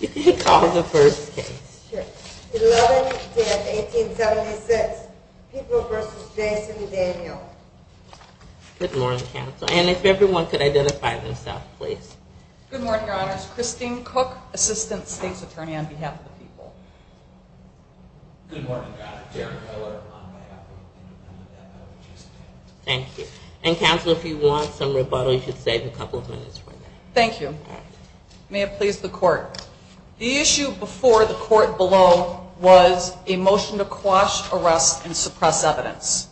You can call the first case. Sure. 11-10-1876, People v. Jason and Daniel. Good morning, counsel. And if everyone could identify themselves, please. Good morning, Your Honors. Christine Cook, Assistant State's Attorney on behalf of the People. Good morning, Your Honor. Darren Miller, on behalf of the Independent F.L.A. Justice Committee. Thank you. And, counsel, if you want some rebuttal, you should save a couple of minutes for that. Thank you. May it please the Court. The issue before the Court below was a motion to quash, arrest, and suppress evidence.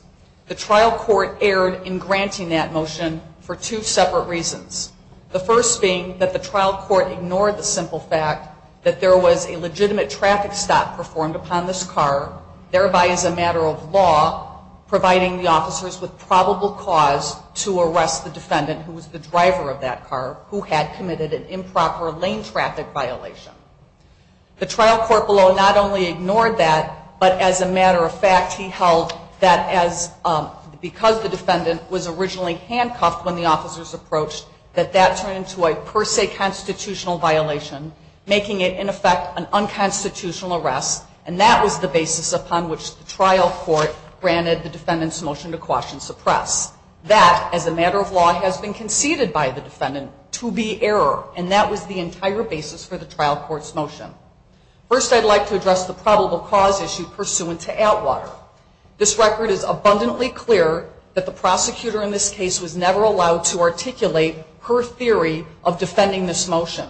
The trial court erred in granting that motion for two separate reasons, the first being that the trial court ignored the simple fact that there was a legitimate traffic stop performed upon this car, thereby as a matter of law, providing the officers with probable cause to arrest the defendant, who was the driver of that car, who had committed an improper lane traffic violation. The trial court below not only ignored that, but as a matter of fact, he held that as, because the defendant was originally handcuffed when the officers approached, that that turned into a per se constitutional violation, making it, in effect, an unconstitutional arrest, and that was the basis upon which the trial court granted the defendant's motion to quash and suppress. That, as a matter of law, has been conceded by the defendant to be error, and that was the entire basis for the trial court's motion. First, I'd like to address the probable cause issue pursuant to Atwater. This record is abundantly clear that the prosecutor in this case was never allowed to articulate her theory of defending this motion.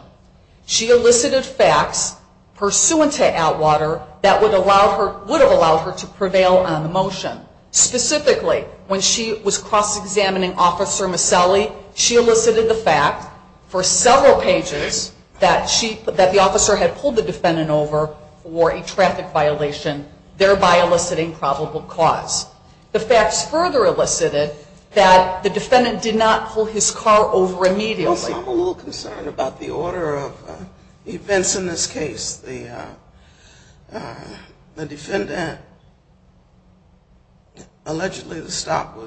She elicited facts pursuant to Atwater that would have allowed her to prevail on the motion. Specifically, when she was cross-examining Officer Maselli, she elicited the fact for several pages that the officer had pulled the defendant over for a traffic violation, thereby eliciting probable cause. The facts further elicited that the defendant did not pull his car over immediately. I'm a little concerned about the order of events in this case. The defendant allegedly stopped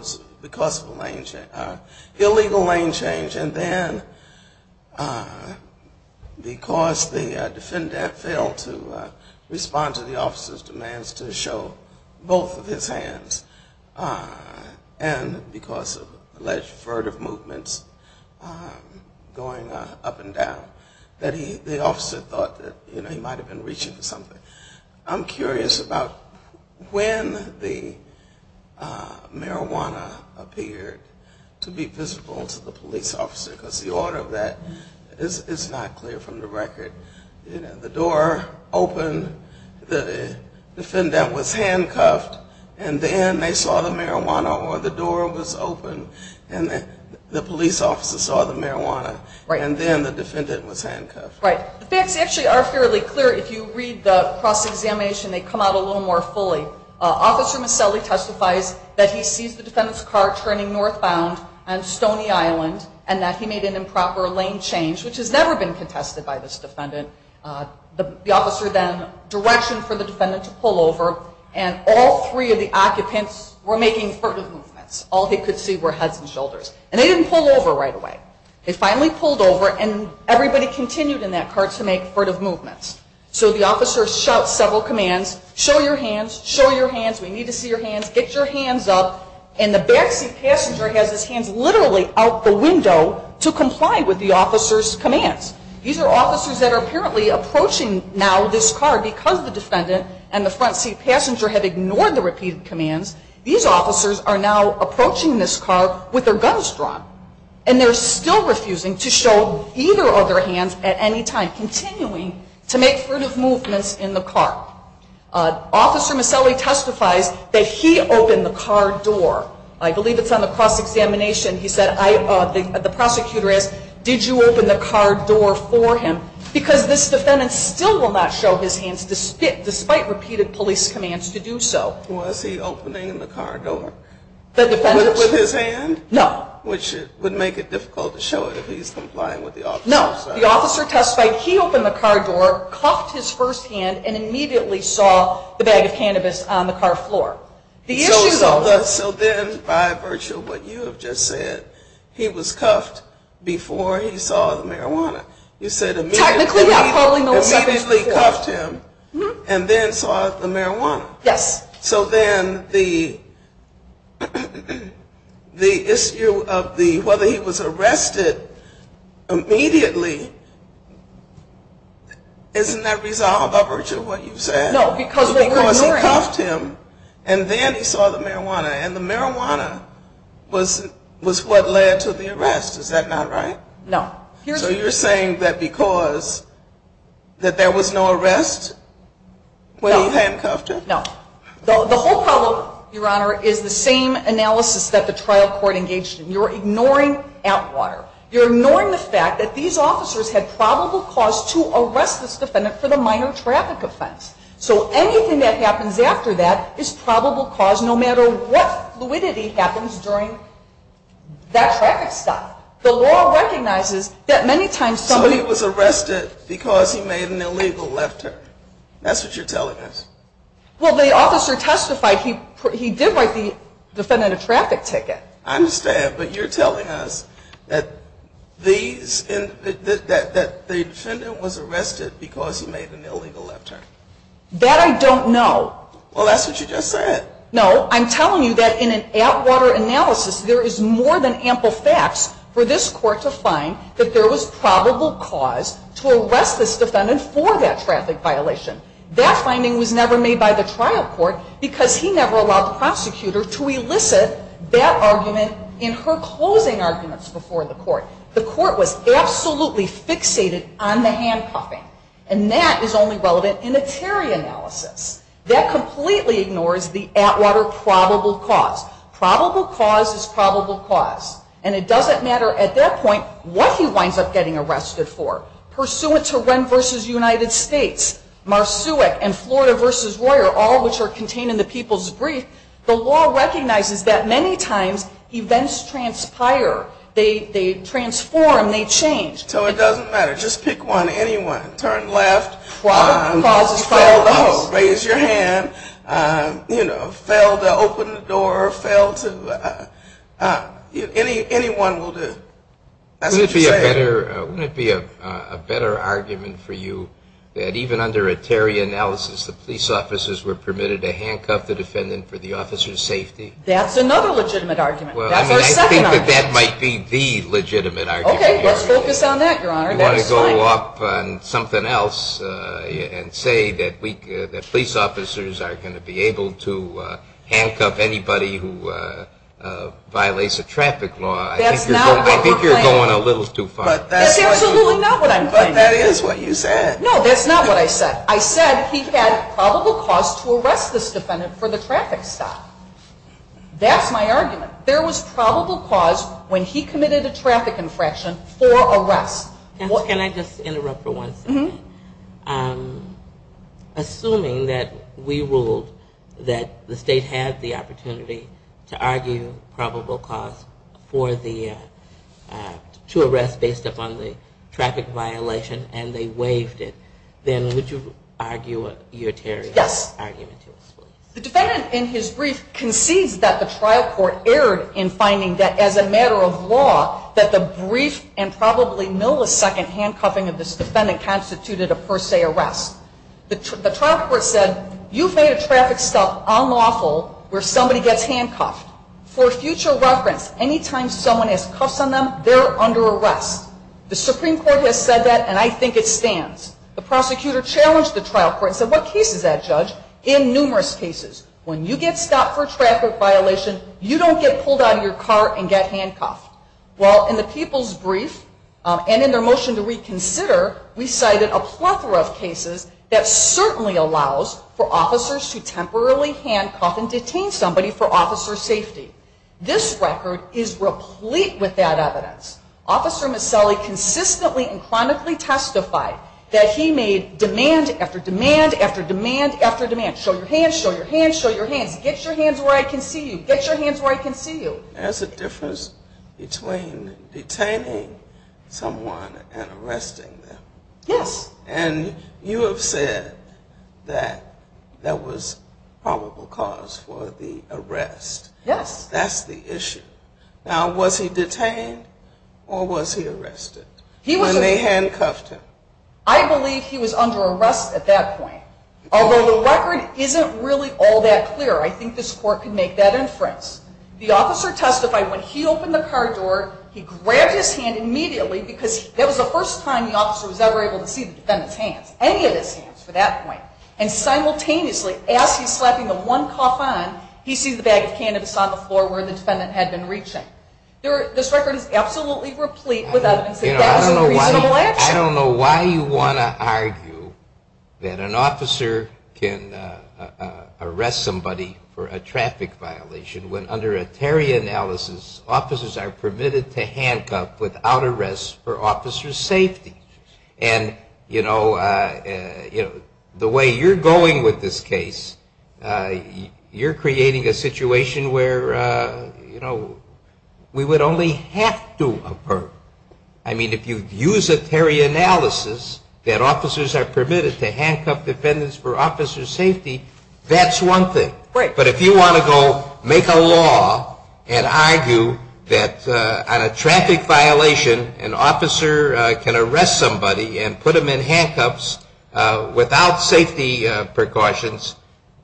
because of an illegal lane change, and then because the defendant failed to respond to the officer's demands to show both of his hands, and because of alleged furtive movements going up and down, that the officer thought that he might have been reaching for something. I'm curious about when the marijuana appeared to be visible to the police officer, because the order of that is not clear from the record. The door opened, the defendant was handcuffed, and then they saw the marijuana, or the door was open and the police officer saw the marijuana, and then the defendant was handcuffed. The facts actually are fairly clear. If you read the cross-examination, they come out a little more fully. Officer Maselli testifies that he sees the defendant's car turning northbound on Stony Island, and that he made an improper lane change, which has never been contested by this defendant. The officer then directioned for the defendant to pull over, and all three of the occupants were making furtive movements. All he could see were heads and shoulders, and they didn't pull over right away. They finally pulled over, and everybody continued in that car to make furtive movements. So the officer shouts several commands, show your hands, show your hands, we need to see your hands, get your hands up, and the back seat passenger has his hands literally out the window to comply with the officer's commands. These are officers that are apparently approaching now this car because the defendant and the front seat passenger have ignored the repeated commands. These officers are now approaching this car with their guns drawn, and they're still refusing to show either of their hands at any time, continuing to make furtive movements in the car. Officer Maselli testifies that he opened the car door. I believe it's on the cross-examination. He said, the prosecutor asked, did you open the car door for him? Because this defendant still will not show his hands despite repeated police commands to do so. Was he opening the car door? The defendant? With his hand? No. Which would make it difficult to show it if he's complying with the officer's commands. The officer testified he opened the car door, cuffed his first hand, and immediately saw the bag of cannabis on the car floor. So then by virtue of what you have just said, he was cuffed before he saw the marijuana. You said immediately cuffed him and then saw the marijuana. Yes. So then the issue of whether he was arrested immediately, isn't that resolved by virtue of what you've said? No, because they were ignoring him. Because he cuffed him, and then he saw the marijuana. And the marijuana was what led to the arrest. Is that not right? No. So you're saying that because there was no arrest when he handcuffed him? No. The whole problem, Your Honor, is the same analysis that the trial court engaged in. You're ignoring Atwater. You're ignoring the fact that these officers had probable cause to arrest this defendant for the minor traffic offense. So anything that happens after that is probable cause no matter what fluidity happens during that traffic stop. The law recognizes that many times somebody was arrested because he made an illegal left turn. That's what you're telling us. Well, the officer testified he did write the defendant a traffic ticket. I understand. But you're telling us that the defendant was arrested because he made an illegal left turn. That I don't know. Well, that's what you just said. No. I'm telling you that in an Atwater analysis, there is more than ample facts for this court to find that there was probable cause to arrest this defendant for that traffic violation. That finding was never made by the trial court because he never allowed the prosecutor to elicit that argument in her closing arguments before the court. The court was absolutely fixated on the handcuffing. And that is only relevant in a Terry analysis. That completely ignores the Atwater probable cause. Probable cause is probable cause. And it doesn't matter at that point what he winds up getting arrested for. Pursuant to Wren v. United States, Marsuic, and Florida v. Royer, all which are contained in the people's brief, the law recognizes that many times events transpire. They transform. They change. So it doesn't matter. Just pick one, anyone. Turn left. Probable cause is probable cause. Raise your hand. You know, fail to open the door, fail to anyone will do. Wouldn't it be a better argument for you that even under a Terry analysis, the police officers were permitted to handcuff the defendant for the officer's safety? That's another legitimate argument. That's our second argument. I think that that might be the legitimate argument. Okay, let's focus on that, Your Honor. You want to go up on something else and say that police officers are going to be able to handcuff anybody who violates a traffic law. I think you're going a little too far. That's absolutely not what I'm claiming. But that is what you said. No, that's not what I said. I said he had probable cause to arrest this defendant for the traffic stop. That's my argument. There was probable cause when he committed a traffic infraction for arrest. Can I just interrupt for one second? Assuming that we ruled that the state had the opportunity to argue probable cause to arrest based upon the traffic violation and they waived it, then would you argue your Terry argument? Yes. The defendant in his brief concedes that the trial court erred in finding that as a matter of law, that the brief and probably millisecond handcuffing of this defendant constituted a per se arrest. The trial court said you've made a traffic stop unlawful where somebody gets handcuffed. For future reference, anytime someone has cuffs on them, they're under arrest. The Supreme Court has said that, and I think it stands. The prosecutor challenged the trial court and said what case is that, Judge? In numerous cases, when you get stopped for a traffic violation, you don't get pulled out of your car and get handcuffed. Well, in the people's brief, and in their motion to reconsider, we cited a plethora of cases that certainly allows for officers to temporarily handcuff and detain somebody for officer safety. This record is replete with that evidence. Officer Miscelli consistently and chronically testified that he made demand after demand after demand after demand. Show your hands, show your hands, show your hands. Get your hands where I can see you. Get your hands where I can see you. There's a difference between detaining someone and arresting them. Yes. And you have said that that was probable cause for the arrest. Yes. That's the issue. Now, was he detained or was he arrested when they handcuffed him? I believe he was under arrest at that point. Although the record isn't really all that clear, I think this court can make that inference. The officer testified when he opened the car door, he grabbed his hand immediately because that was the first time the officer was ever able to see the defendant's hands, any of his hands for that point. And simultaneously, as he's slapping the one cuff on, he sees the bag of cannabis on the floor where the defendant had been reaching. This record is absolutely replete with evidence that that was a reasonable action. I don't know why you want to argue that an officer can arrest somebody for a traffic violation when under a Terry analysis, officers are permitted to handcuff without arrest for officer's safety. And, you know, the way you're going with this case, you're creating a situation where, you know, we would only have to avert. I mean, if you use a Terry analysis that officers are permitted to handcuff defendants for officer's safety, that's one thing. But if you want to go make a law and argue that on a traffic violation, an officer can arrest somebody and put them in handcuffs without safety precautions,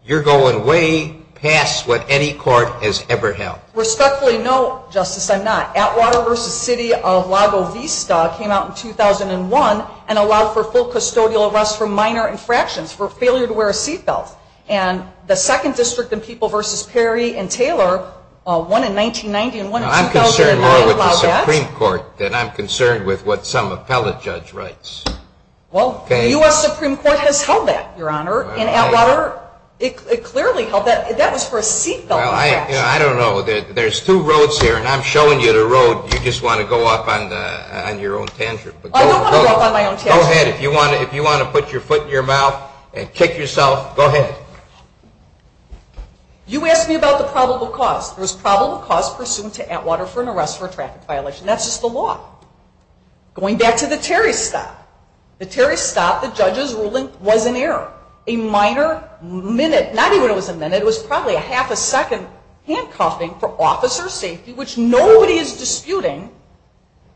you're going way past what any court has ever held. Respectfully, no, Justice, I'm not. Atwater v. City of Lago Vista came out in 2001 and allowed for full custodial arrest for minor infractions, for failure to wear a seat belt. And the second district in People v. Perry and Taylor, one in 1990 and one in 2009, allowed that. I'm concerned more with the Supreme Court than I'm concerned with what some appellate judge writes. Well, the U.S. Supreme Court has held that, Your Honor, in Atwater. It clearly held that. That was for a seat belt infraction. Well, I don't know. There's two roads here, and I'm showing you the road. You just want to go off on your own tantrum. I don't want to go off on my own tantrum. Go ahead. If you want to put your foot in your mouth and kick yourself, go ahead. You asked me about the probable cause. There was probable cause pursuant to Atwater for an arrest for a traffic violation. That's just the law. Going back to the Terry stop. The Terry stop, the judge's ruling was in error. A minor minute, not even a minute, it was probably a half a second handcuffing for officer safety, which nobody is disputing,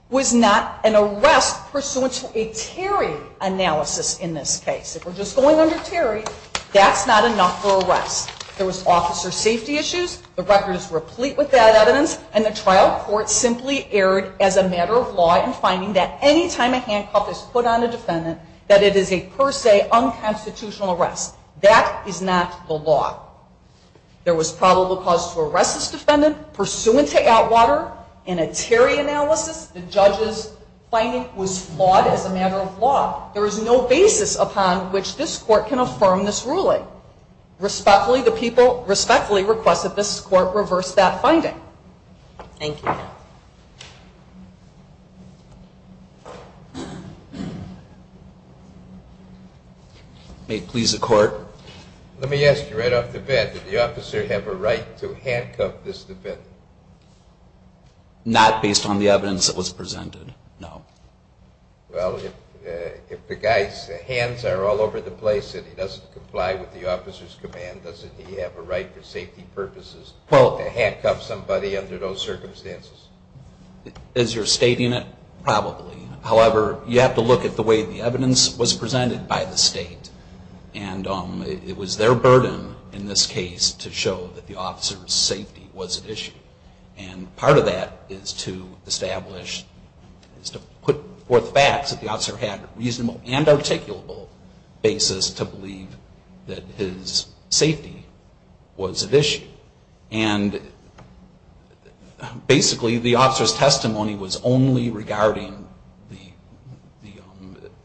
was not an arrest pursuant to a Terry analysis in this case. If we're just going under Terry, that's not enough for arrest. There was officer safety issues. The record is replete with that evidence, and the trial court simply erred as a matter of law that any time a handcuff is put on a defendant, that it is a per se unconstitutional arrest. That is not the law. There was probable cause to arrest this defendant pursuant to Atwater in a Terry analysis. The judge's finding was flawed as a matter of law. There is no basis upon which this court can affirm this ruling. Respectfully, the people respectfully request that this court reverse that finding. Thank you. May it please the court. Let me ask you right off the bat, did the officer have a right to handcuff this defendant? Not based on the evidence that was presented, no. Well, if the guy's hands are all over the place and he doesn't comply with the officer's command, doesn't he have a right for safety purposes to handcuff somebody under those circumstances? As you're stating it, probably. However, you have to look at the way the evidence was presented by the state, and it was their burden in this case to show that the officer's safety was at issue. And part of that is to establish, is to put forth facts that the officer had reasonable and articulable basis to believe that his safety was at issue. And basically, the officer's testimony was only regarding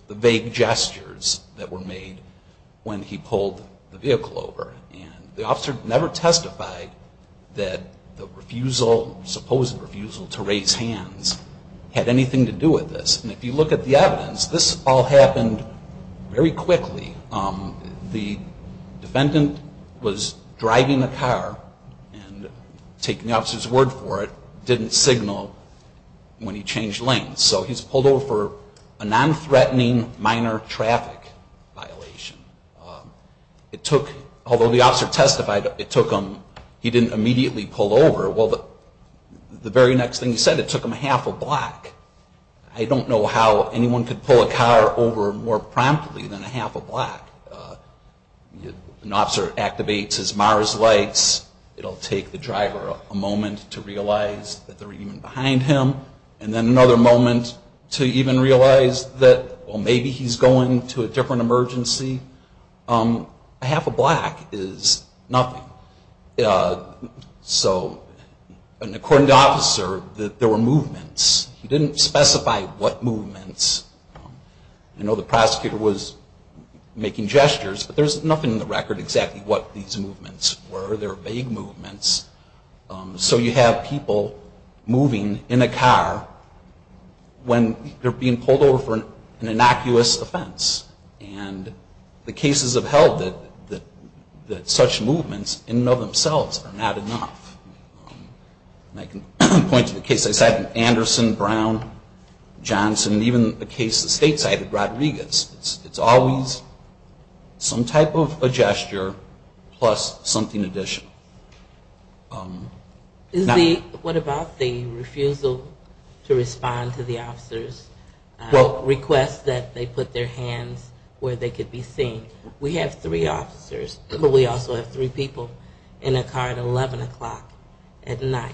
the vague gestures that were made when he pulled the vehicle over. The officer never testified that the refusal, supposed refusal to raise hands, had anything to do with this. And if you look at the evidence, this all happened very quickly. The defendant was driving the car and taking the officer's word for it, didn't signal when he changed lanes. So he's pulled over for a nonthreatening minor traffic violation. It took, although the officer testified, it took him, he didn't immediately pull over. Well, the very next thing he said, it took him a half a block. I don't know how anyone could pull a car over more promptly than a half a block. An officer activates his MARS lights. It'll take the driver a moment to realize that they're even behind him, and then another moment to even realize that, well, maybe he's going to a different emergency. A half a block is nothing. So, and according to the officer, there were movements. He didn't specify what movements. I know the prosecutor was making gestures, but there's nothing in the record exactly what these movements were. They're vague movements. So you have people moving in a car when they're being pulled over for an innocuous offense. And the cases have held that such movements in and of themselves are not enough. I can point to the case I cited, Anderson, Brown, Johnson, and even the case the state cited, Rodriguez. It's always some type of a gesture plus something additional. Is the, what about the refusal to respond to the officer's request that they put their hands where they could be seen? We have three officers, but we also have three people in a car at 11 o'clock at night.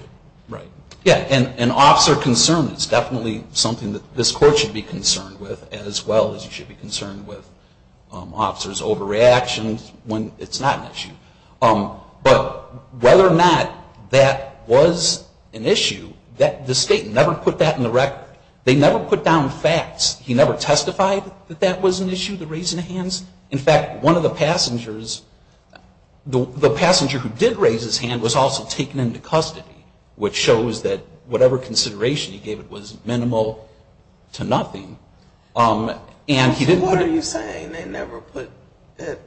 Yeah, and officer concern is definitely something that this court should be concerned with as well as you should be concerned with officers' overreactions when it's not an issue. But whether or not that was an issue, the state never put that in the record. They never put down facts. He never testified that that was an issue, the raising of hands. In fact, one of the passengers, the passenger who did raise his hand was also taken into custody, which shows that whatever consideration he gave it was minimal to nothing. What are you saying? They never put that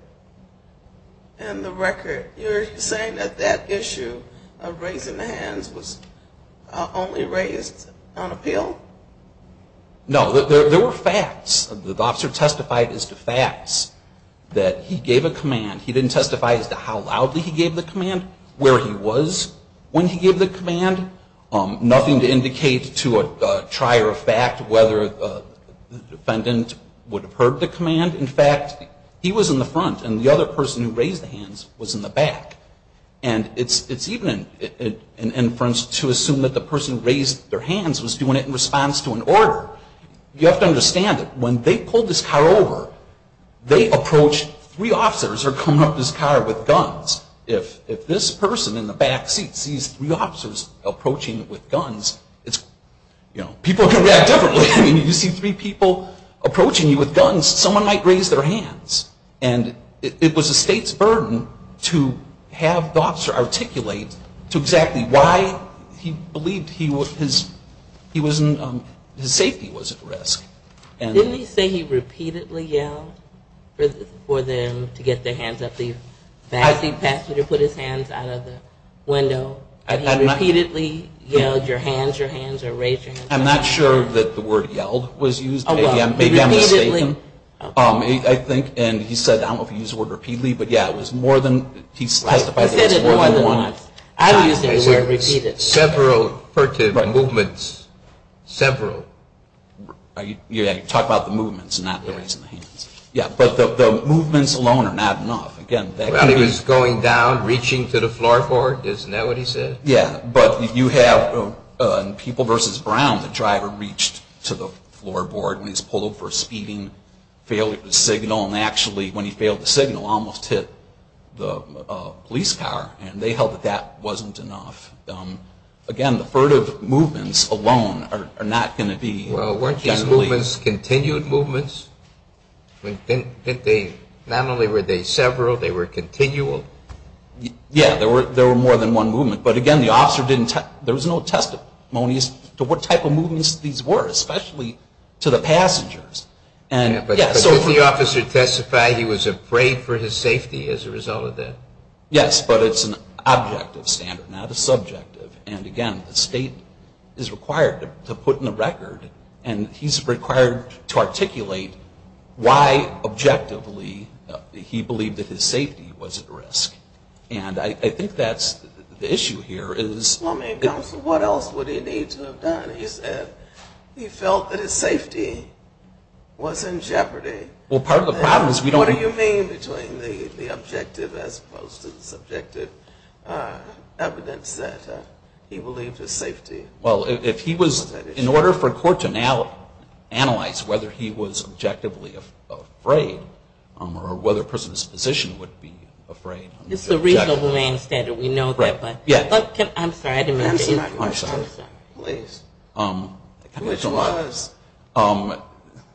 in the record. You're saying that that issue of raising the hands was only raised on appeal? No, there were facts. The officer testified as to facts that he gave a command. He didn't testify as to how loudly he gave the command, where he was when he gave the command, nothing to indicate to a trier of fact whether the defendant would have heard the command. In fact, he was in the front and the other person who raised the hands was in the back. It's even an inference to assume that the person who raised their hands was doing it in response to an order. You have to understand that when they pulled this car over, they approached three officers who were coming up to this car with guns. If this person in the back seat sees three officers approaching with guns, people can react differently. If you see three people approaching you with guns, someone might raise their hands. It was the state's burden to have the officer articulate to exactly why he believed his safety was at risk. Didn't he say he repeatedly yelled for them to get their hands up the back seat passenger, put his hands out of the window, that he repeatedly yelled, your hands, your hands, raise your hands? I'm not sure that the word yelled was used. Maybe I'm mistaken. He said, I don't know if he used the word repeatedly, but yeah, he testified that it was more than one time. Several movements, several. You're talking about the movements, not the raising of hands. But the movements alone are not enough. He was going down, reaching to the floorboard, isn't that what he said? Yeah, but you have in People v. Brown, the driver reached to the floorboard when he was pulled over for speeding, failed to signal, and actually when he failed to signal, almost hit the police car. And they held that that wasn't enough. Again, the furtive movements alone are not going to be enough. Weren't these movements continued movements? Not only were they several, they were continual? Yeah, there were more than one movement. But again, there was no testimonies to what type of movements these were, especially to the passengers. But did the officer testify he was afraid for his safety as a result of that? Yes, but it's an objective standard, not a subjective. And again, the state is required to put in the record, and he's required to articulate, why objectively he believed that his safety was at risk. And I think that's the issue here. Well, I mean, what else would he need to have done? He said he felt that his safety was in jeopardy. Well, part of the problem is we don't... What do you mean between the objective as opposed to the subjective evidence that he believed his safety? Well, if he was, in order for court to now analyze whether he was objectively afraid, or whether a person's position would be afraid... It's the reasonable man standard. We know that. Right. But, I'm sorry, I didn't mean to interrupt. I'm sorry. Please. Which was,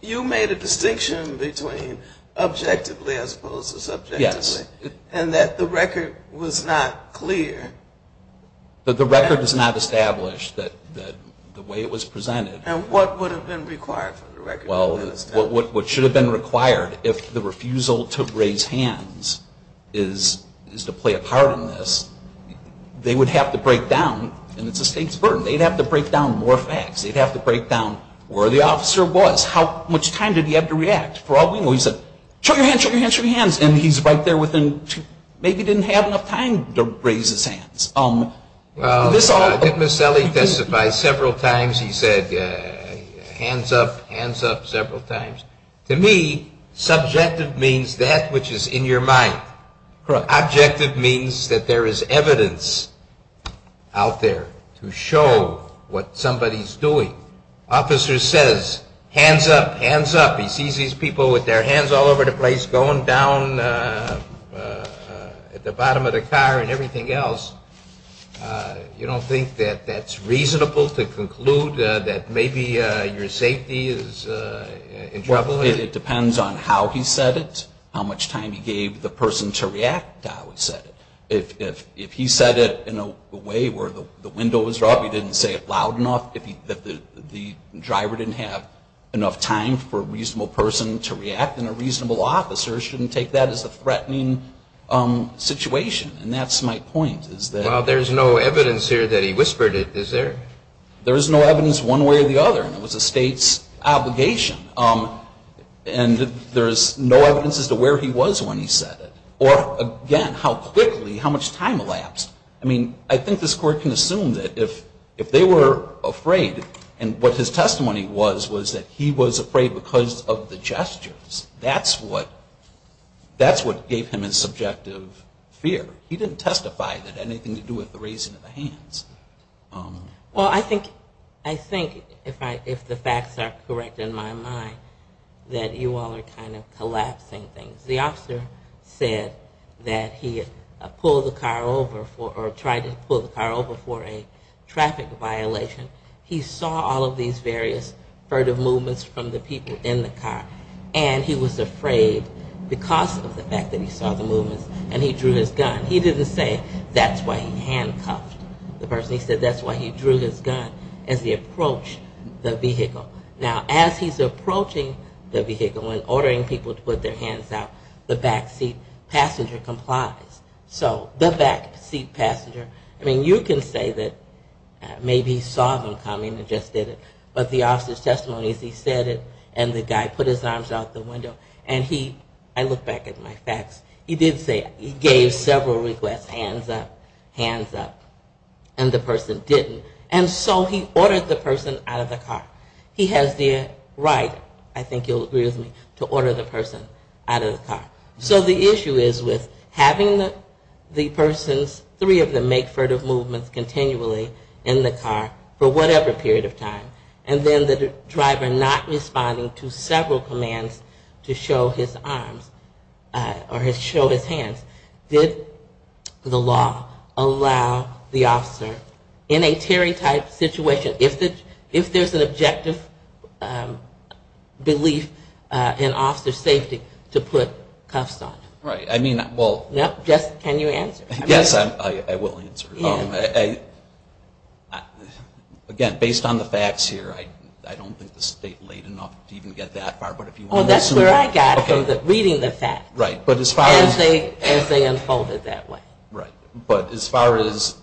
you made a distinction between objectively as opposed to subjectively. Yes. And that the record was not clear. That the record was not established, the way it was presented. And what would have been required for the record to be established? Well, what should have been required, if the refusal to raise hands is to play a part in this, they would have to break down, and it's a state's burden, they'd have to break down more facts. They'd have to break down where the officer was, how much time did he have to react. For all we know, he said, show your hands, show your hands, show your hands, and he's right there within, maybe didn't have enough time to raise his hands. Well, I think Ms. Selley testified several times. He said, hands up, hands up, several times. To me, subjective means that which is in your mind. Correct. Objective means that there is evidence out there to show what somebody's doing. If the officer says, hands up, hands up, he sees these people with their hands all over the place, going down at the bottom of the car and everything else, you don't think that that's reasonable to conclude that maybe your safety is in trouble? It depends on how he said it, how much time he gave the person to react to how he said it. If he said it in a way where the window was up, he didn't say it loud enough, if the driver didn't have enough time for a reasonable person to react, then a reasonable officer shouldn't take that as a threatening situation. And that's my point. Well, there's no evidence here that he whispered it, is there? There's no evidence one way or the other, and it was the State's obligation. And there's no evidence as to where he was when he said it. Or, again, how quickly, how much time elapsed. I mean, I think this court can assume that if they were afraid, and what his testimony was was that he was afraid because of the gestures. That's what gave him his subjective fear. He didn't testify that it had anything to do with the raising of the hands. Well, I think if the facts are correct in my mind, that you all are kind of collapsing things. The officer said that he had pulled the car over or tried to pull the car over for a traffic violation. He saw all of these various furtive movements from the people in the car, and he was afraid because of the fact that he saw the movements, and he drew his gun. He didn't say, that's why he handcuffed the person. He said that's why he drew his gun as he approached the vehicle. Now, as he's approaching the vehicle and ordering people to put their hands out, the backseat passenger complies. So the backseat passenger, I mean, you can say that maybe he saw them coming and just did it, but the officer's testimony is he said it, and the guy put his arms out the window, and he, I look back at my facts, he did say it. He gave several requests, hands up, hands up, and the person didn't. And so he ordered the person out of the car. He has the right, I think you'll agree with me, to order the person out of the car. So the issue is with having the persons, three of them, make furtive movements continually in the car for whatever period of time, and then the driver not responding to several commands to show his arms, or show his hands, did the law allow the officer, in a Terry type situation, if there's an objective belief in officer safety, to put cuffs on? Right, I mean, well. Yes, can you answer? Yes, I will answer. Again, based on the facts here, I don't think the state laid enough to even get that far. Oh, that's where I got from reading the facts, as they unfolded that way. Right, but as far as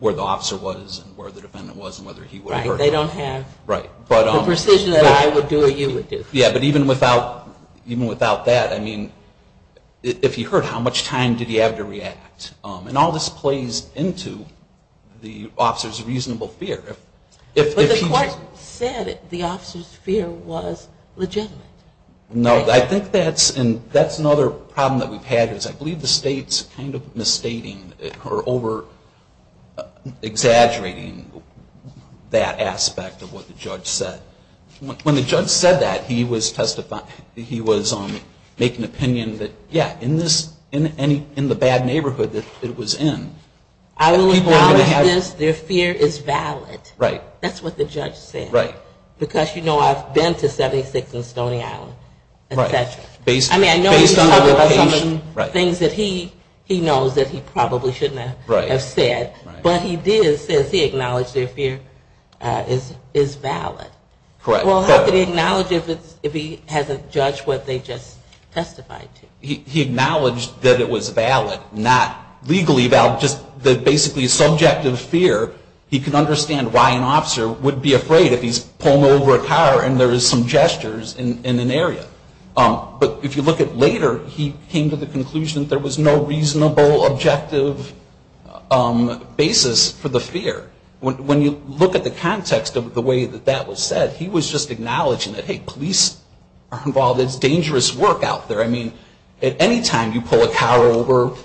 where the officer was, and where the defendant was, and whether he would have hurt him. Right, they don't have the precision that I would do or you would do. Yeah, but even without that, I mean, if he hurt, how much time did he have to react? And all this plays into the officer's reasonable fear. But the court said the officer's fear was legitimate. No, I think that's another problem that we've had, is I believe the state's kind of misstating or over-exaggerating that aspect of what the judge said. When the judge said that, he was making an opinion that, yeah, in the bad neighborhood that it was in. I will acknowledge this, their fear is valid. That's what the judge said. Because, you know, I've been to 76 and Stony Island, et cetera. I mean, I know he's covered some of the things that he knows that he probably shouldn't have said. But he did say he acknowledged their fear is valid. Well, how could he acknowledge it if he hasn't judged what they just testified to? He acknowledged that it was valid, not legally valid, just basically subjective fear. He could understand why an officer would be afraid if he's pulling over a car and there is some gestures in an area. But if you look at later, he came to the conclusion there was no reasonable, objective basis for the fear. When you look at the context of the way that that was said, he was just acknowledging it. Hey, police are involved. It's dangerous work out there. I mean, at any time you pull a car over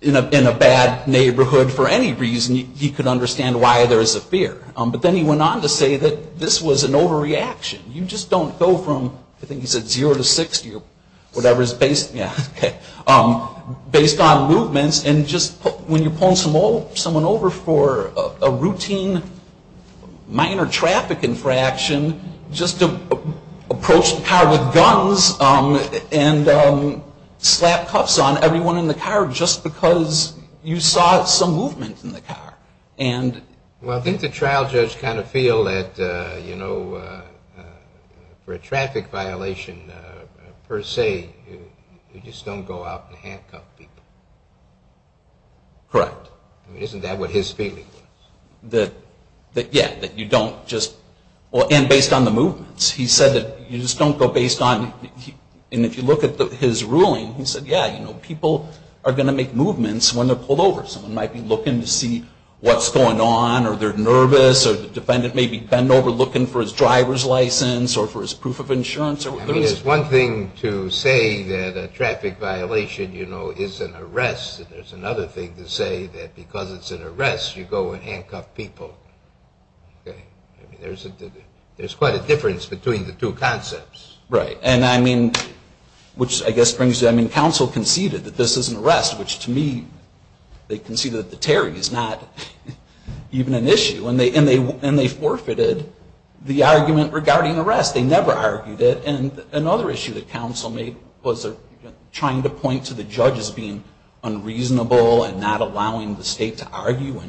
in a bad neighborhood for any reason, he could understand why there is a fear. But then he went on to say that this was an overreaction. You just don't go from, I think he said zero to 60 or whatever is based on movements. And just when you're pulling someone over for a routine minor traffic infraction, just to approach the car with guns and slap cuffs on everyone in the car just because you saw some movement in the car. Well, I think the trial judge kind of feel that, you know, for a traffic violation per se, you just don't go out and handcuff people. Correct. Isn't that what his feeling was? Yeah, that you don't just, and based on the movements. He said that you just don't go based on, and if you look at his ruling, he said, yeah, you know, people are going to make movements when they're pulled over. Someone might be looking to see what's going on or they're nervous or the defendant may be bent over looking for his driver's license or for his proof of insurance. I mean, it's one thing to say that a traffic violation, you know, is an arrest. And there's another thing to say that because it's an arrest, you go and handcuff people. I mean, there's quite a difference between the two concepts. Right, and I mean, which I guess brings to, I mean, counsel conceded that this is an arrest, which to me, they conceded that the Terry is not even an issue. And they forfeited the argument regarding arrest. They never argued it. And another issue that counsel made was trying to point to the judge as being unreasonable and not allowing the state to argue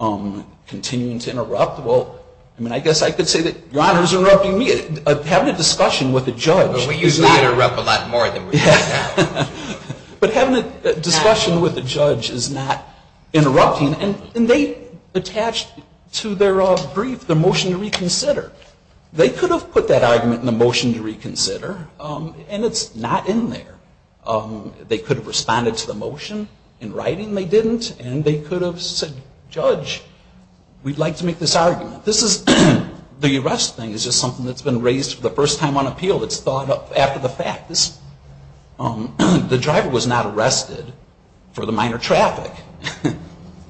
and continuing to interrupt. Well, I mean, I guess I could say that Your Honor is interrupting me. Having a discussion with a judge is not. We usually interrupt a lot more than we do now. But having a discussion with a judge is not interrupting. And they attached to their brief the motion to reconsider. They could have put that argument in the motion to reconsider. And it's not in there. They could have responded to the motion in writing. They didn't. And they could have said, Judge, we'd like to make this argument. This is, the arrest thing is just something that's been raised for the first time on appeal. It's thought up after the fact. The driver was not arrested for the minor traffic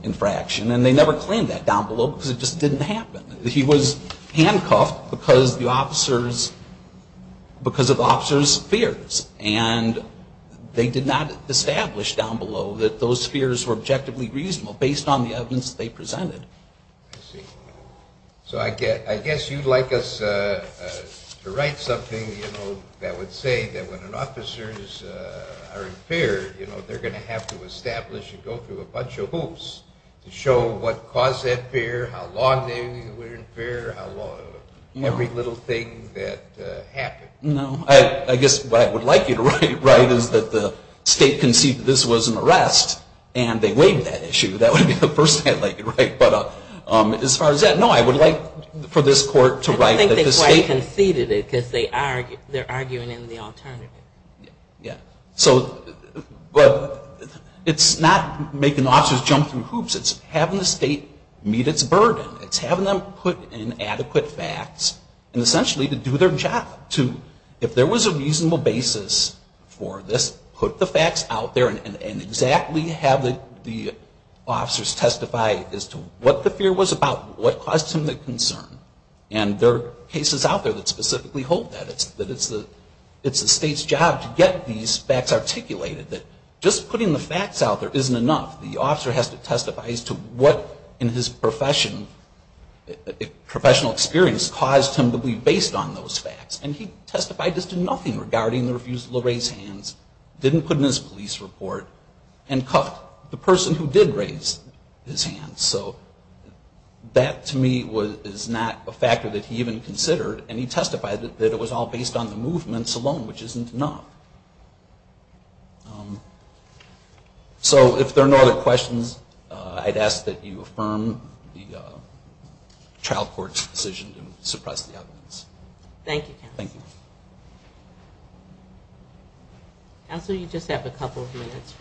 infraction. And they never claimed that down below because it just didn't happen. He was handcuffed because of the officer's fears. And they did not establish down below that those fears were objectively reasonable based on the evidence they presented. I see. So I guess you'd like us to write something, you know, that would say that when an officer is impaired, you know, they're going to have to establish and go through a bunch of hoops to show what caused that fear, how long they were impaired, every little thing that happened. No. I guess what I would like you to write is that the state conceded this was an arrest and they waived that issue. That would be the first thing I'd like you to write. But as far as that, no, I would like for this court to write that the state. I don't think they quite conceded it because they're arguing in the alternative. Yeah. But it's not making officers jump through hoops. It's having the state meet its burden. It's having them put in adequate facts and essentially to do their job. If there was a reasonable basis for this, put the facts out there and exactly have the officers testify as to what the fear was about, what caused them the concern. And there are cases out there that specifically hold that. That it's the state's job to get these facts articulated, that just putting the facts out there isn't enough. The officer has to testify as to what in his professional experience caused him to be based on those facts. And he testified as to nothing regarding the refusal to raise hands, didn't put in his police report, and cuffed the person who did raise his hands. So that to me is not a factor that he even considered. And he testified that it was all based on the movements alone, which isn't enough. So if there are no other questions, I'd ask that you affirm the trial court's decision to suppress the evidence. Thank you, counsel. Thank you. Counsel, you just have a couple of minutes.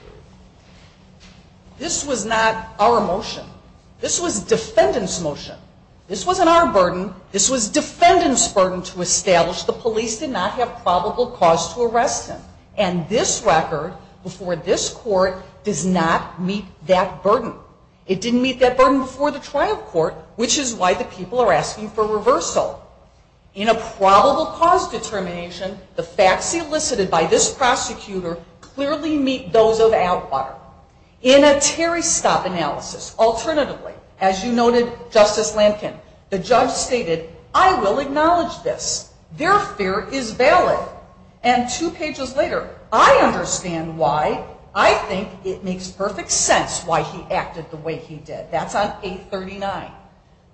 This was not our motion. This was defendant's motion. This wasn't our burden. This was defendant's burden to establish the police did not have probable cause to arrest him. And this record before this court does not meet that burden. It didn't meet that burden before the trial court, which is why the people are asking for reversal. In a probable cause determination, the facts elicited by this prosecutor clearly meet those of Atwater. In a Terry stop analysis, alternatively, as you noted, Justice Lankin, the judge stated, I will acknowledge this. Their fear is valid. And two pages later, I understand why I think it makes perfect sense why he acted the way he did. That's on 839.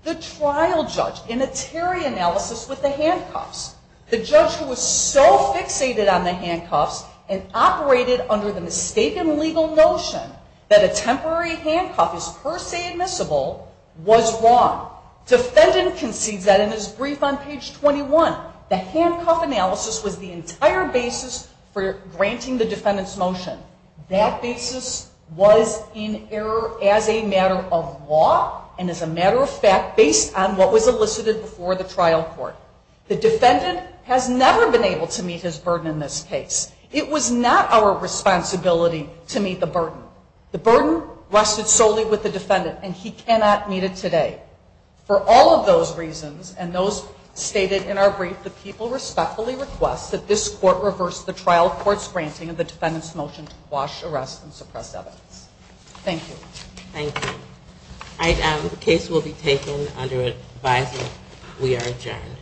The trial judge in a Terry analysis with the handcuffs, the judge who was so fixated on the handcuffs and operated under the mistaken legal notion that a temporary handcuff is per se admissible, was wrong. Defendant concedes that in his brief on page 21. The handcuff analysis was the entire basis for granting the defendant's motion. That basis was in error as a matter of law, and as a matter of fact, based on what was elicited before the trial court. The defendant has never been able to meet his burden in this case. It was not our responsibility to meet the burden. The burden rested solely with the defendant, and he cannot meet it today. For all of those reasons, and those stated in our brief, the people respectfully request that this court reverse the trial court's granting of the defendant's motion to quash, arrest, and suppress evidence. Thank you. Thank you. The case will be taken under advisory. We are adjourned.